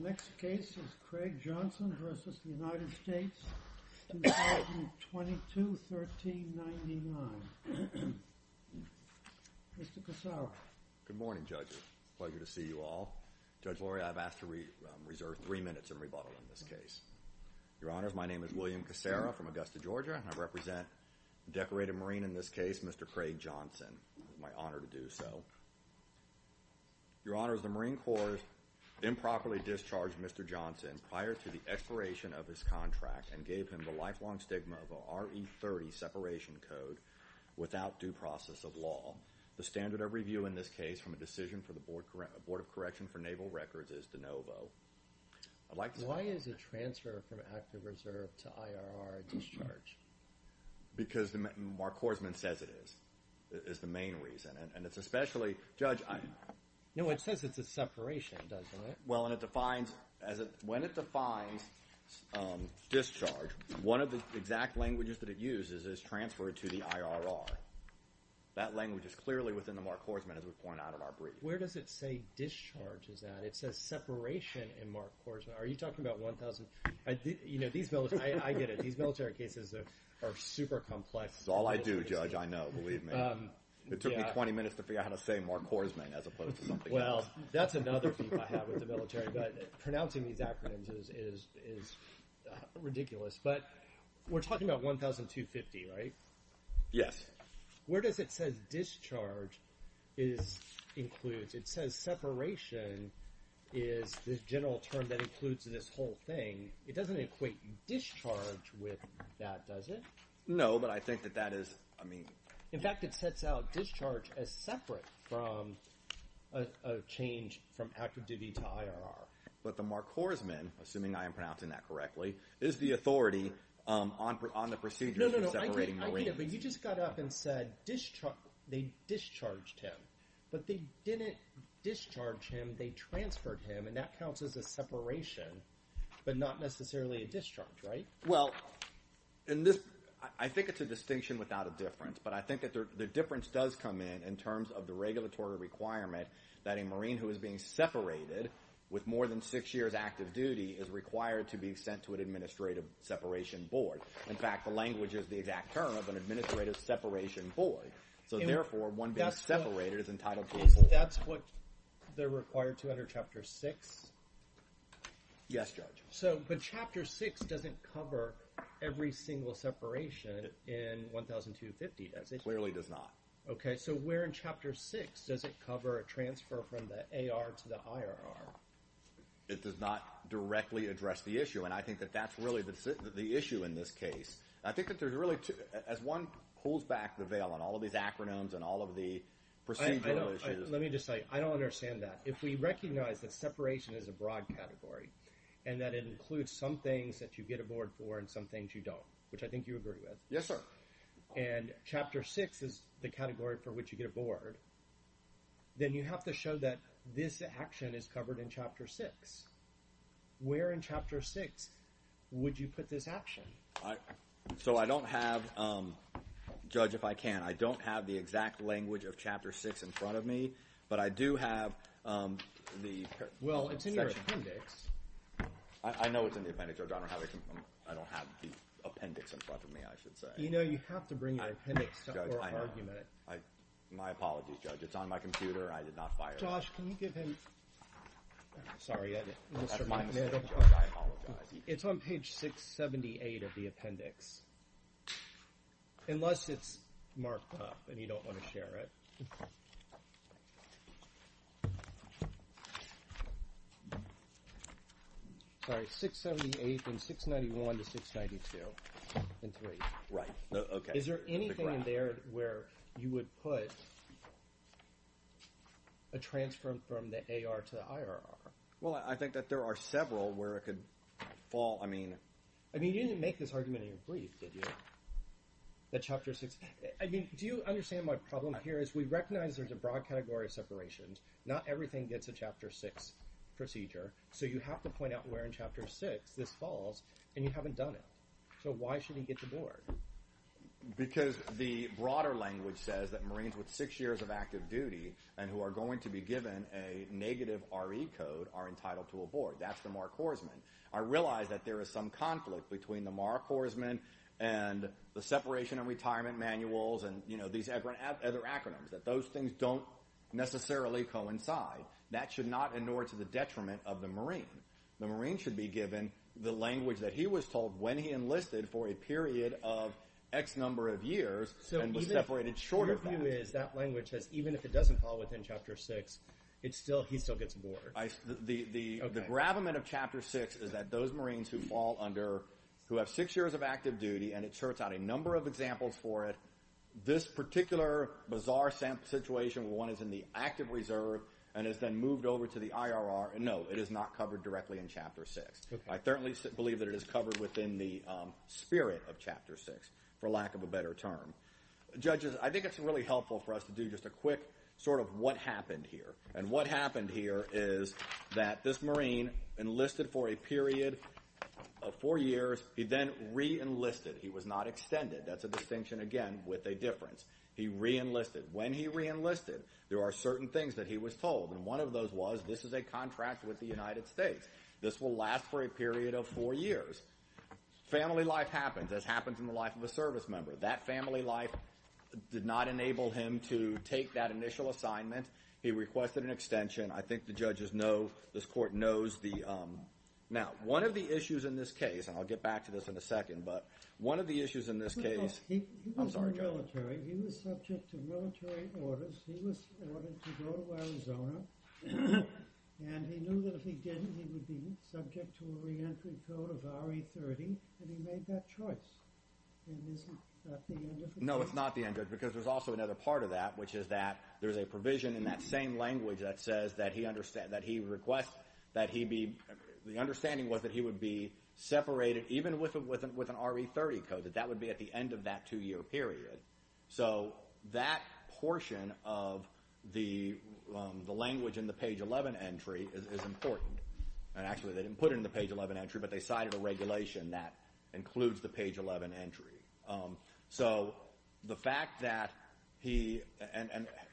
Next case is Craig Johnson v. United States, 2022, 1399. Mr. Casara. Good morning, judges. Pleasure to see you all. Judge Lori, I've asked to reserve three minutes of rebuttal in this case. Your Honor, my name is William Casara from Augusta, Georgia, and I represent the decorated Marine in this case, Mr. Craig Johnson. It's my honor to do so. Your Honor, the Marine Corps improperly discharged Mr. Johnson prior to the expiration of his contract and gave him the lifelong stigma of a RE30 separation code without due process of law. The standard of review in this case from a decision for the Board of Correction for Naval Records is de novo. Why is a transfer from active reserve to IRR discharge? Because Mark Korsman says it is, is the main reason. And it's especially... Judge... No, it says it's a separation, doesn't it? Well, and it defines... When it defines discharge, one of the exact languages that it uses is transfer to the IRR. That language is clearly within the Mark Korsman, as we point out in our brief. Where does it say discharge is at? It says separation in Mark Korsman. Are you talking about 1,000... These military... I get it. These military cases are super complex. It's all I do, Judge, I know. Believe me. It took me 20 minutes to figure out how to say Mark Korsman as opposed to something else. Well, that's another beef I have with the military, but pronouncing these acronyms is ridiculous. But we're talking about 1,250, right? Yes. Where does it say discharge is includes? It says separation is the general term that includes this whole thing. It doesn't equate discharge with that, does it? No, but I think that that is... In fact, it sets out discharge as separate from a change from active duty to IRR. But the Mark Korsman, assuming I am pronouncing that correctly, is the authority on the procedures for separating Marines. No, no, no, I get it, but you just got up and said they discharged him, but they didn't discharge him, they transferred him, and that counts as a separation, but not necessarily a discharge, right? Well, and this... I think it's a distinction without a difference, but I think that the difference does come in, in terms of the regulatory requirement that a Marine who is being separated with more than six years active duty is required to be sent to an administrative separation board. In fact, the language is the exact term of an administrative separation board. So therefore, one being separated is entitled to a board. That's what they're required to under Chapter 6? Yes, Judge. So, but Chapter 6 doesn't cover every single separation in 1,250, does it? Clearly does not. Okay, so where in Chapter 6 does it cover a transfer from the AR to the IRR? It does not directly address the issue, and I think that there's really two... As one pulls back the veil on all of these acronyms and all of the procedural issues... Let me just say, I don't understand that. If we recognize that separation is a broad category and that it includes some things that you get a board for and some things you don't, which I think you agree with. Yes, sir. And Chapter 6 is the category for which you get a board, then you have to show that this action is covered in Chapter 6. Where in Chapter 6 would you put this action? So I don't have... Judge, if I can, I don't have the exact language of Chapter 6 in front of me, but I do have the... Well, it's in your appendix. I know it's in the appendix, Judge. I don't have the appendix in front of me, I should say. You know, you have to bring your appendix or argument. Judge, I have. My apologies, Judge. It's on my computer. I did not fire it. Josh, can you give him... Sorry. That's my mistake, Judge, I apologize. It's on page 678 of the appendix, unless it's marked up and you don't wanna share it. Sorry, 678 and 691 to 692 and 3. Right. Okay. Is there anything in there where you would put a transfer from the AR to the IRR? Well, I think that there are several where it could fall. I mean... I mean, you didn't make this argument in your brief, did you? That Chapter 6... I mean, do you understand my problem here is we recognize there's a broad category of separations. Not everything gets a Chapter 6 procedure, so you have to point out where in Chapter 6 this falls and you haven't done it. So why should he get the board? Because the broader language says that six years of active duty and who are going to be given a negative RE code are entitled to a board. That's the Mark Horsman. I realize that there is some conflict between the Mark Horsman and the separation and retirement manuals and these other acronyms, that those things don't necessarily coincide. That should not in order to the detriment of the Marine. The Marine should be given the language that he was told when he enlisted for a period of X number of years. The broader language says even if it doesn't fall within Chapter 6, he still gets a board. The gravamen of Chapter 6 is that those Marines who fall under, who have six years of active duty and it charts out a number of examples for it, this particular bizarre situation where one is in the active reserve and is then moved over to the IRR, no, it is not covered directly in Chapter 6. I certainly believe that it is covered within the spirit of Chapter 6, for lack of a better term. Judges, I think it's really helpful for us to do just a quick sort of what happened here. And what happened here is that this Marine enlisted for a period of four years. He then re-enlisted. He was not extended. That's a distinction, again, with a difference. He re-enlisted. When he re-enlisted, there are certain things that he was told. One of those was this is a contract with the United States. This will last for a period of four years. Family life happens, as happens in the life of a service member. That family life did not enable him to take that initial assignment. He requested an extension. I think the judges know, this Court knows. Now, one of the issues in this case, and I'll get back to this in a second, but one of the issues in this case He was in the military. He was subject to military orders. He was ordered to go to Arizona. And he knew that if he didn't, he would be subject to a re-entry code of RE-30. And he made that choice. And isn't that the end of it? No, it's not the end of it, because there's also another part of that, which is that there's a provision in that same language that says that he requests that he be the understanding was that he would be separated, even with an RE-30 code, that that would be at the end of that two-year period. That portion of the language in the page 11 entry is important. Actually, they didn't put it in the page 11 entry, but they cited a regulation that includes the page 11 entry. So, the fact that he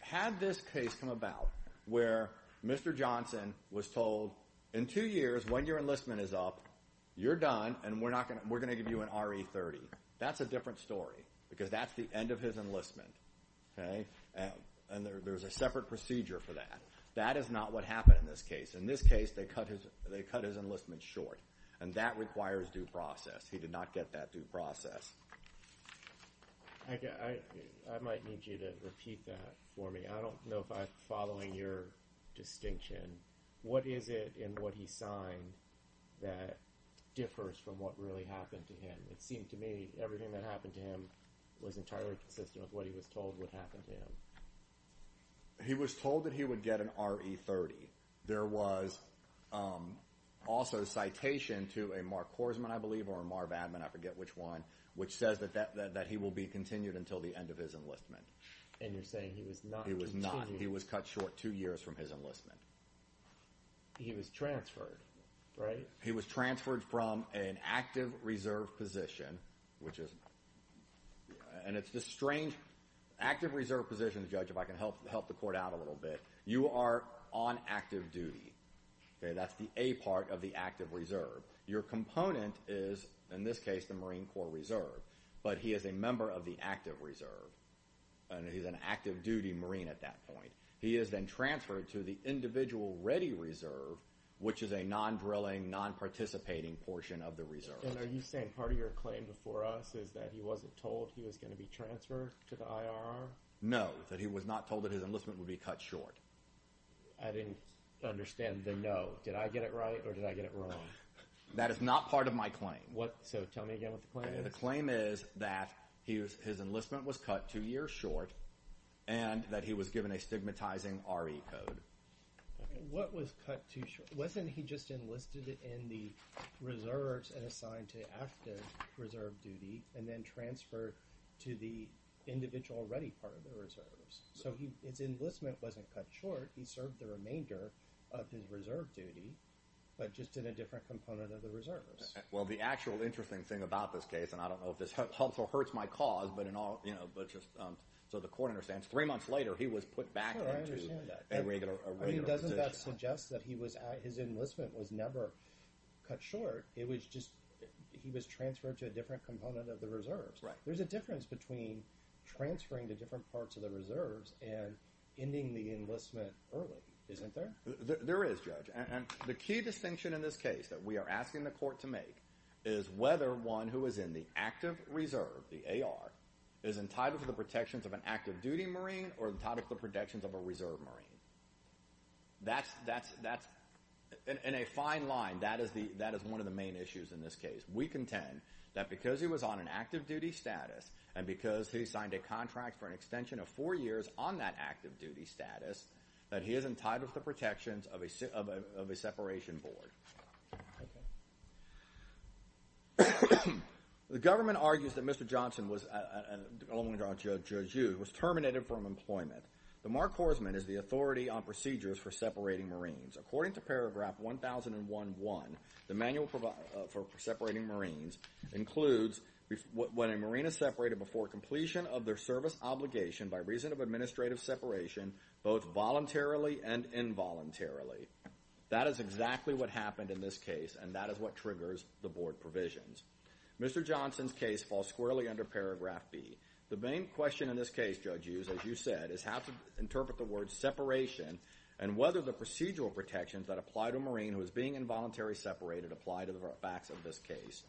had this case come about where Mr. Johnson was told, in two years, when your enlistment is up, you're done and we're going to give you an RE-30. That's a different story. Because that's the end of his enlistment. And there's a separate procedure for that. That is not what happened in this case. In this case, they cut his enlistment short. And that requires due process. He did not get that due process. I might need you to repeat that for me. I don't know if I'm following your distinction. What is it in what he signed that differs from what really happened to him? It seemed to me everything that happened to him was entirely consistent with what he was told would happen to him. He was told that he would get an RE-30. There was also citation to a Mark Korsman, I believe, or a Marv Adman, I forget which one, which says that he will be continued until the end of his enlistment. And you're saying he was not continued? He was not. He was cut short two years from his enlistment. He was transferred, right? He was transferred from an active reserve position, which is and it's a strange, active reserve position, Judge, if I can help the court out a little bit. You are on active duty. That's the A part of the active reserve. Your component is, in this case, the Marine Corps Reserve. But he is a member of the active reserve. And he's an active duty Marine at that point. He is then transferred to the individual ready reserve, which is a non-drilling, non-participating portion of the reserve. And are you saying part of your claim before us is that he wasn't told he was going to be transferred to the IRR? No. That he was not told that his enlistment would be cut short. I didn't understand the no. Did I get it right or did I get it wrong? That is not part of my claim. So tell me again what the claim is? The claim is that his enlistment was cut two years short and that he was given a stigmatizing RE code. What was cut two wasn't he just enlisted in the reserves and assigned to active reserve duty and then transferred to the individual ready part of the reserves. So his enlistment wasn't cut short. He served the remainder of his reserve duty, but just in a different component of the reserves. Well, the actual interesting thing about this case, and I don't know if this hurts my cause, but just so the court understands, three months later he was put back into a regular position. Doesn't that suggest that his enlistment was never cut short. It was just, he was transferred to a different component of the reserves. There's a difference between transferring to different parts of the reserves and ending the enlistment early. Isn't there? There is Judge. And the key distinction in this case that we are asking the court to make is whether one who is in the active reserve, the AR, is entitled to the protections of an active duty Marine or entitled to the protections of a reserve Marine. That's in a fine line, that is one of the main issues in this case. We contend that because he was on an active duty status and because he signed a contract for an extension of four years on that active duty status, that he is entitled to the protections of a separation board. The government argues that Mr. Johnson was terminated from employment. The Mark Horsman is the authority on procedures for separating Marines. According to paragraph 1011, the manual for separating Marines includes when a Marine is separated before completion of their service obligation by reason of administrative separation both voluntarily and involuntarily. That is exactly what happened in this case and that is what triggers the board provisions. Mr. Johnson's case falls squarely under paragraph B. The main question in this case, Judge Hughes, as you said, is how to interpret the word separation and whether the procedural protections that apply to a Marine who is being involuntarily separated apply to the facts of this case.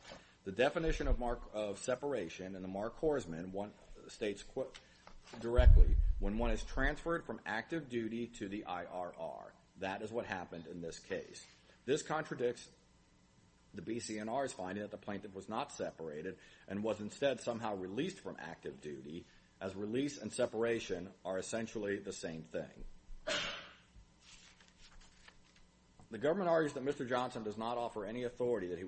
The definition of separation in the Mark Horsman states directly, when one is transferred from active duty to the IRR. That is what happened in this case. This contradicts the BCNR's finding that the plaintiff was not separated and was instead somehow released from active duty as release and separation are essentially the same thing. The government argues that Mr. Johnson does not offer any authority that he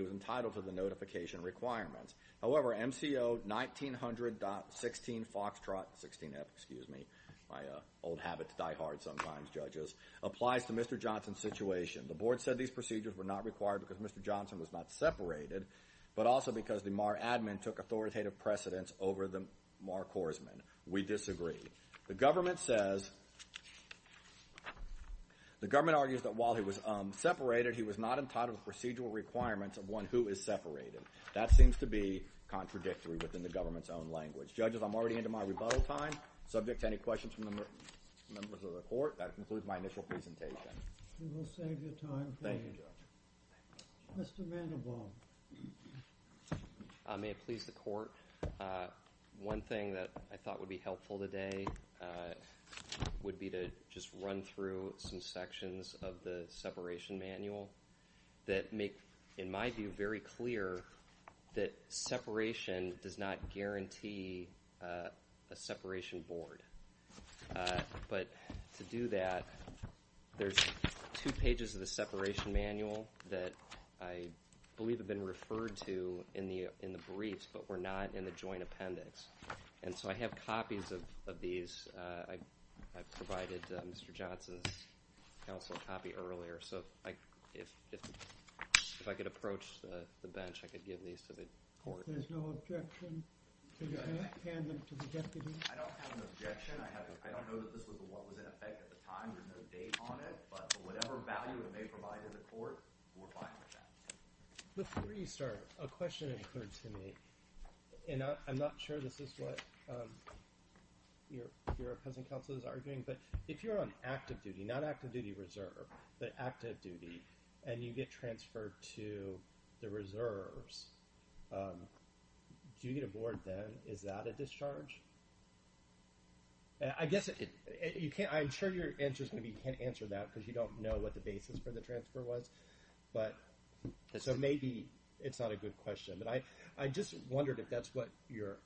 was entitled to the notification requirements. However, MCO 1900.16 FOXTROT 16F, excuse me, my old habit to die hard sometimes judges, applies to Mr. Johnson's situation. The board said these procedures were not required because Mr. Johnson was not separated but also because the MAR admin took authoritative precedence over the Mark Horsman. We disagree. The government says the government argues that while he was separated, he was not entitled to procedural requirements of one who is separated. That seems to be contradictory within the government's own language. Judges, I'm already into my rebuttal time. Subject to any questions from the members of the court, that concludes my initial presentation. We will save your time. Thank you, Judge. Mr. Vanderbilt. May it please the court. One thing that I thought would be helpful today would be to just run through some sections of the separation manual that make, in my view, very clear that separation does not guarantee a separation board. To do that, there's two pages of the separation manual that I believe have been referred to in the joint appendix. I have copies of these. I provided Mr. Johnson's counsel a copy earlier. If I could approach the bench, I could give these to the court. There's no objection. I don't have an objection. I don't know that this was what was in effect at the time. There's no date on it, but whatever value it may provide to the court, we're fine with that. Before you start, a question occurred to me. I'm not sure this is what your opposing counsel is arguing, but if you're on active duty, not active duty reserve, but active duty, and you get transferred to the reserves, do you get a board then? Is that a discharge? I guess, I'm sure your answer is going to be you can't answer that because you don't know what the basis for the transfer was. Maybe it's not a good question. I just wondered if that's what your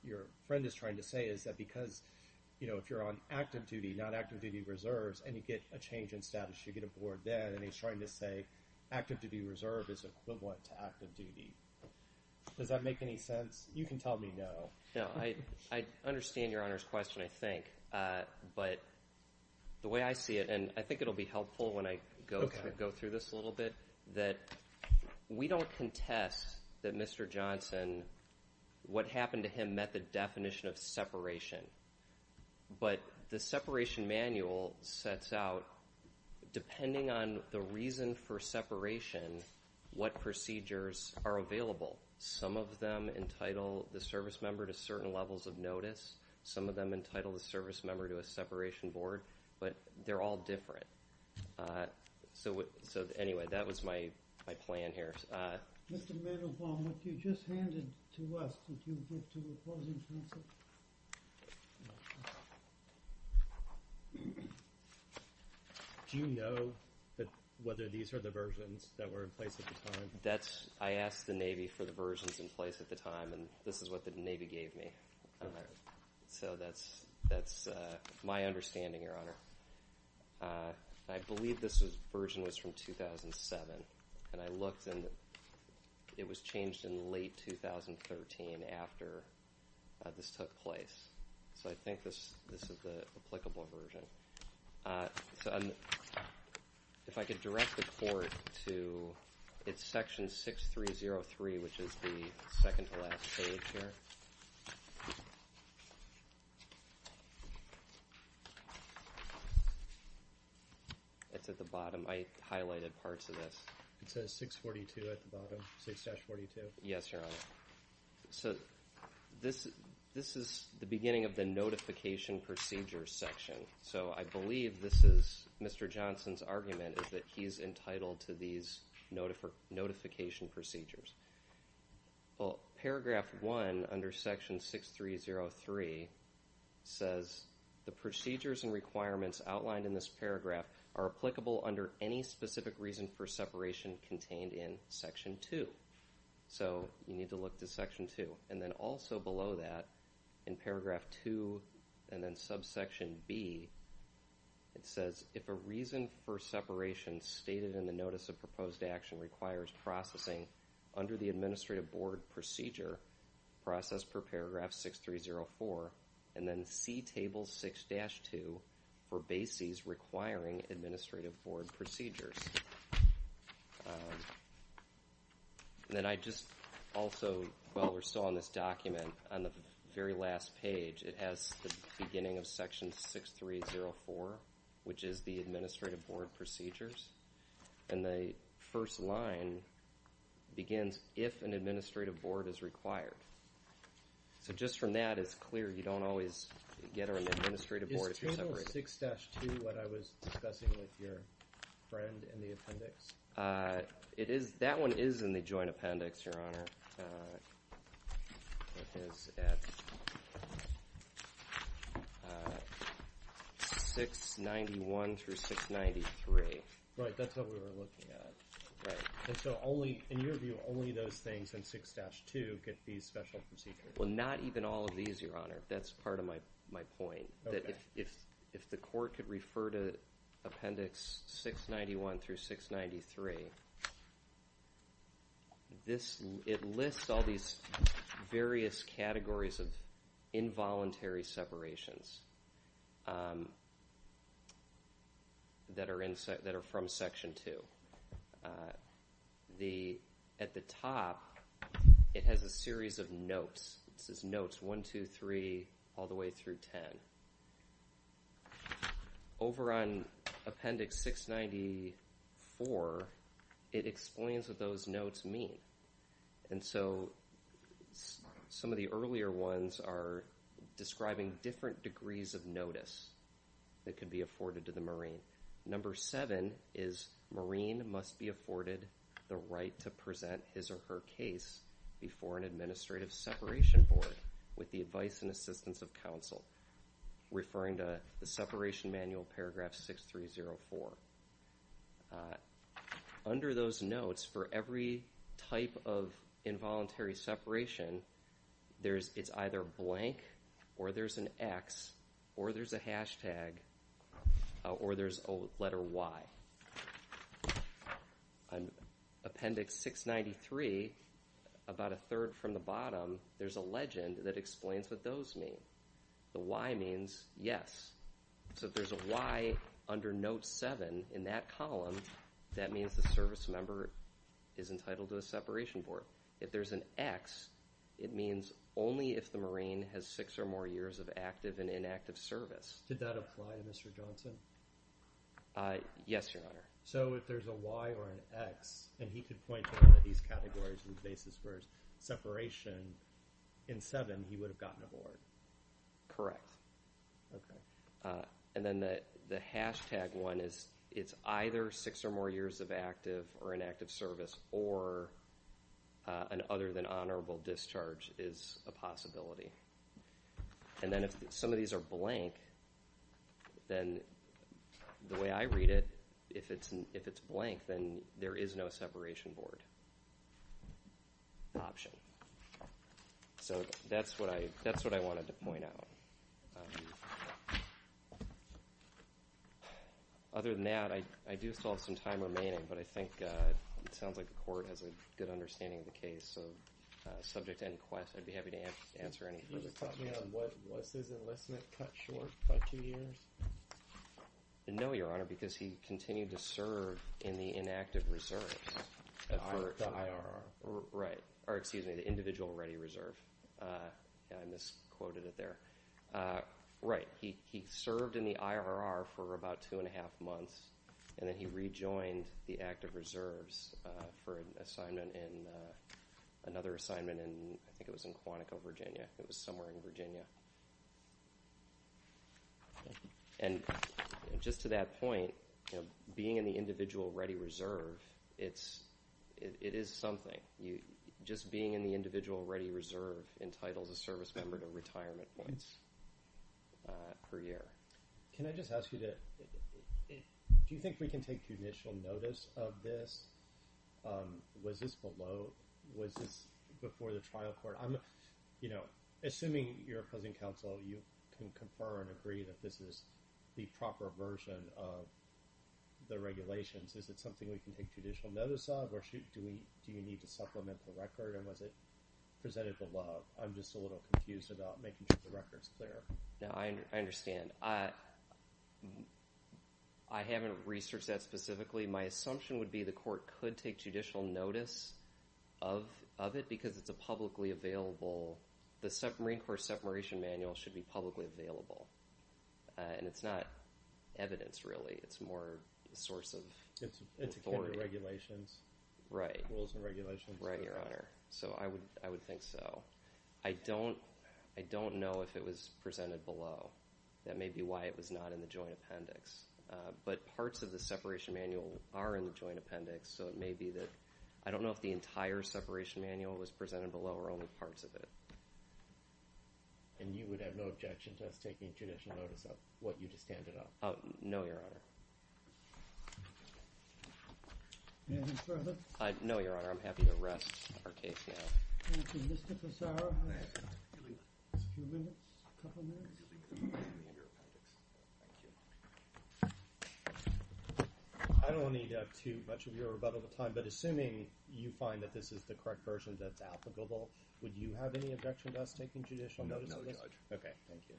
friend is trying to say, is that because if you're on active duty, not active duty reserves, and you get a change in status, you get a board then, and he's trying to say active duty reserve is equivalent to active duty. Does that make any sense? You can tell me no. I understand your Honor's question, I think. The way I see it, and I think it will be helpful when I go through this a little bit, that we don't contest that Mr. Johnson, what happened to him met the definition of separation, but the separation manual sets out, depending on the reason for separation, what procedures are available. Some of them entitle the service member to certain levels of notice. Some of them entitle the service member to a separation board, but they're all different. Anyway, that was my plan here. Do you know whether these are the versions that were in place at the time? I asked the Navy for the versions in place at the time, and this is what the Navy gave me. That's my understanding, Your Honor. I believe this version was from 2007, and I looked, and it was changed in late 2013 after this took place. I think this is the applicable version. If I could direct the Court to it's section 6303, which is the second to last page here. It's at the bottom. I highlighted parts of this. It says 642 at the bottom, 6-42. Yes, Your Honor. This is the beginning of the notification procedure section, so I believe this is Mr. Johnson's argument, is that he's entitled to these notification procedures. Paragraph 1 under section 6303 says the procedures and requirements outlined in this paragraph are applicable under any specific reason for separation contained in section 2. So you need to look to section 2. Also below that, in paragraph 2 and then subsection B, it says if a reason for separation stated in the Notice of Proposed Action requires processing under the Administrative Board procedure, process per paragraph 6304, and then see table 6-2 for bases requiring Administrative Board procedures. Then I just also, while we're still on this document, on the very last page it has the beginning of section 6304 which is the Administrative Board procedures, and the first line begins if an Administrative Board is required. So just from that, it's clear you don't always get an Administrative Board if you're separated. Is table 6-2 what I was discussing with your friend in the appendix? It is, that one is in the Joint Appendix, Your Honor. It is at 691-693. Right, that's what we were looking at. Right. And so only, in your view, only those in page 2 get these special procedures? Well, not even all of these, Your Honor. That's part of my point, that if the court could refer to appendix 691-693 this, it lists all these various categories of involuntary separations that are from section 2. At the top it has a series of notes. It says notes 1, 2, 3 all the way through 10. Over on appendix 694 it explains what those notes mean. And so some of the earlier ones are describing different degrees of notice that could be afforded to the Marine. Number 7 is Marine must be afforded the right to present his or her case before an administrative separation board with the advice and assistance of counsel. Referring to the Separation Manual, paragraph 6-3-0-4. Under those notes, for every type of involuntary separation, it's either blank or there's an X or there's a hashtag or there's a letter Y. On appendix 693, about a third from the bottom, there's a legend that explains what those mean. The Y means yes. So if there's a Y under note 7 in that column, that means the service member is entitled to a separation board. If there's an X it means only if the Marine has six or more years of active and active service or an other than honorable discharge is a possibility. And then if some of these are blank, and he could point to one of these categories and places where then the way I read it, if it's blank then there is no separation board option. So that's what I wanted to point out. Other than that, I do still have some time remaining, but I think it sounds like the court has a good understanding of the case, so subject to any questions, I'd be happy to answer any. No, Your Honor, because he continued to serve in the inactive reserves. The individual ready reserve. I misquoted it there. He served in the IRR for about two and a half months, and then he rejoined the active reserves for another assignment in Quantico, Virginia. It was somewhere in Virginia. And just to that point, being in the individual ready reserve it is something. Just being in the individual ready reserve entitles a service member to retirement points per year. Can I just ask you to do you think we can take judicial notice of this? Was this below? Was this before the trial court? Assuming you're opposing counsel, you can confer and agree that this is the proper version of the regulations. Is it something we can take judicial notice of? Do we need to supplement the record? And was it presented below? I'm just a little confused about making sure the record is clear. I understand. I haven't researched that specifically. My assumption would be the court could take judicial notice of it because it's a publicly available the Marine Corps Separation Manual should be publicly available. And it's not evidence, really. It's more a source of authority. It's a set of regulations. I would think so. I don't know if it was presented below. That may be why it was not in the joint appendix. But parts of the Separation Manual are in the joint appendix. I don't know if the entire Separation Manual was presented below or only parts of it. And you would have no objection to us taking judicial notice of what you just handed out? No, Your Honor. Anything further? No, Your Honor. I'm happy to rest our case now. I don't need too much of your rebuttal. Assuming you find that this is the correct version that's applicable, would you have any objection to us taking judicial notice of this? No, Judge.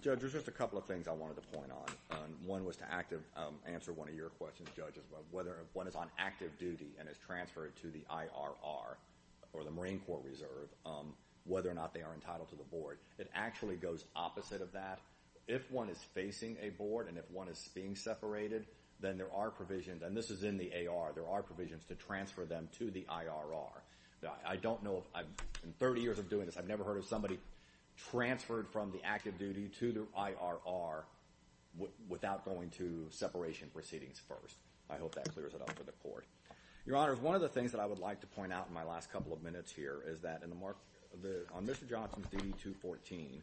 Judge, there's just a couple of things I wanted to point on. One was to answer one of your questions, Judge. Whether one is on active duty and is transferred to the IRR or the Marine Corps Reserve, whether or not they are entitled to the board. It actually goes opposite of that. If one is facing a board and if one is being separated, then there are provisions, and this is in the AR, there are provisions to transfer them to the IRR. In 30 years of doing this, I've never heard of somebody transferred from the active duty to the IRR without going to separation proceedings first. I hope that clears it up for the Court. Your Honor, one of the things that I would like to point out in my last couple of minutes here is that on Mr. Johnson's DD-214,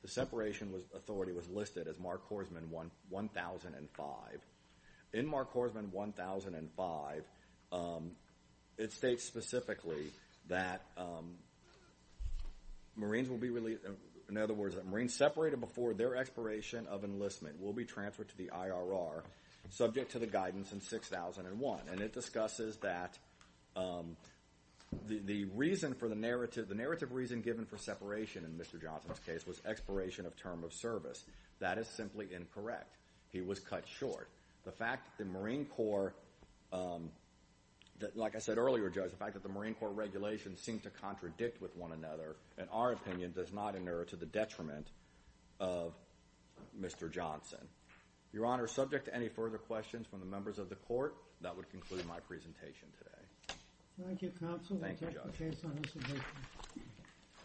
the separation authority was listed as Mark Horsman 1005. In Mark Horsman 1005, it states specifically that Marines separated before their expiration of enlistment will be transferred to the IRR, subject to the March of 2001, and it discusses that the narrative reason given for separation in Mr. Johnson's case was expiration of term of service. That is simply incorrect. He was cut short. The fact that the Marine Corps, like I said earlier, Judge, the fact that the Marine Corps regulations seem to contradict with one another, in our opinion, does not inure to the detriment of Mr. Johnson. Your Honor, subject to any further questions from the members of the Court, that would conclude my presentation today. Thank you, Counsel. Thank you, Judge.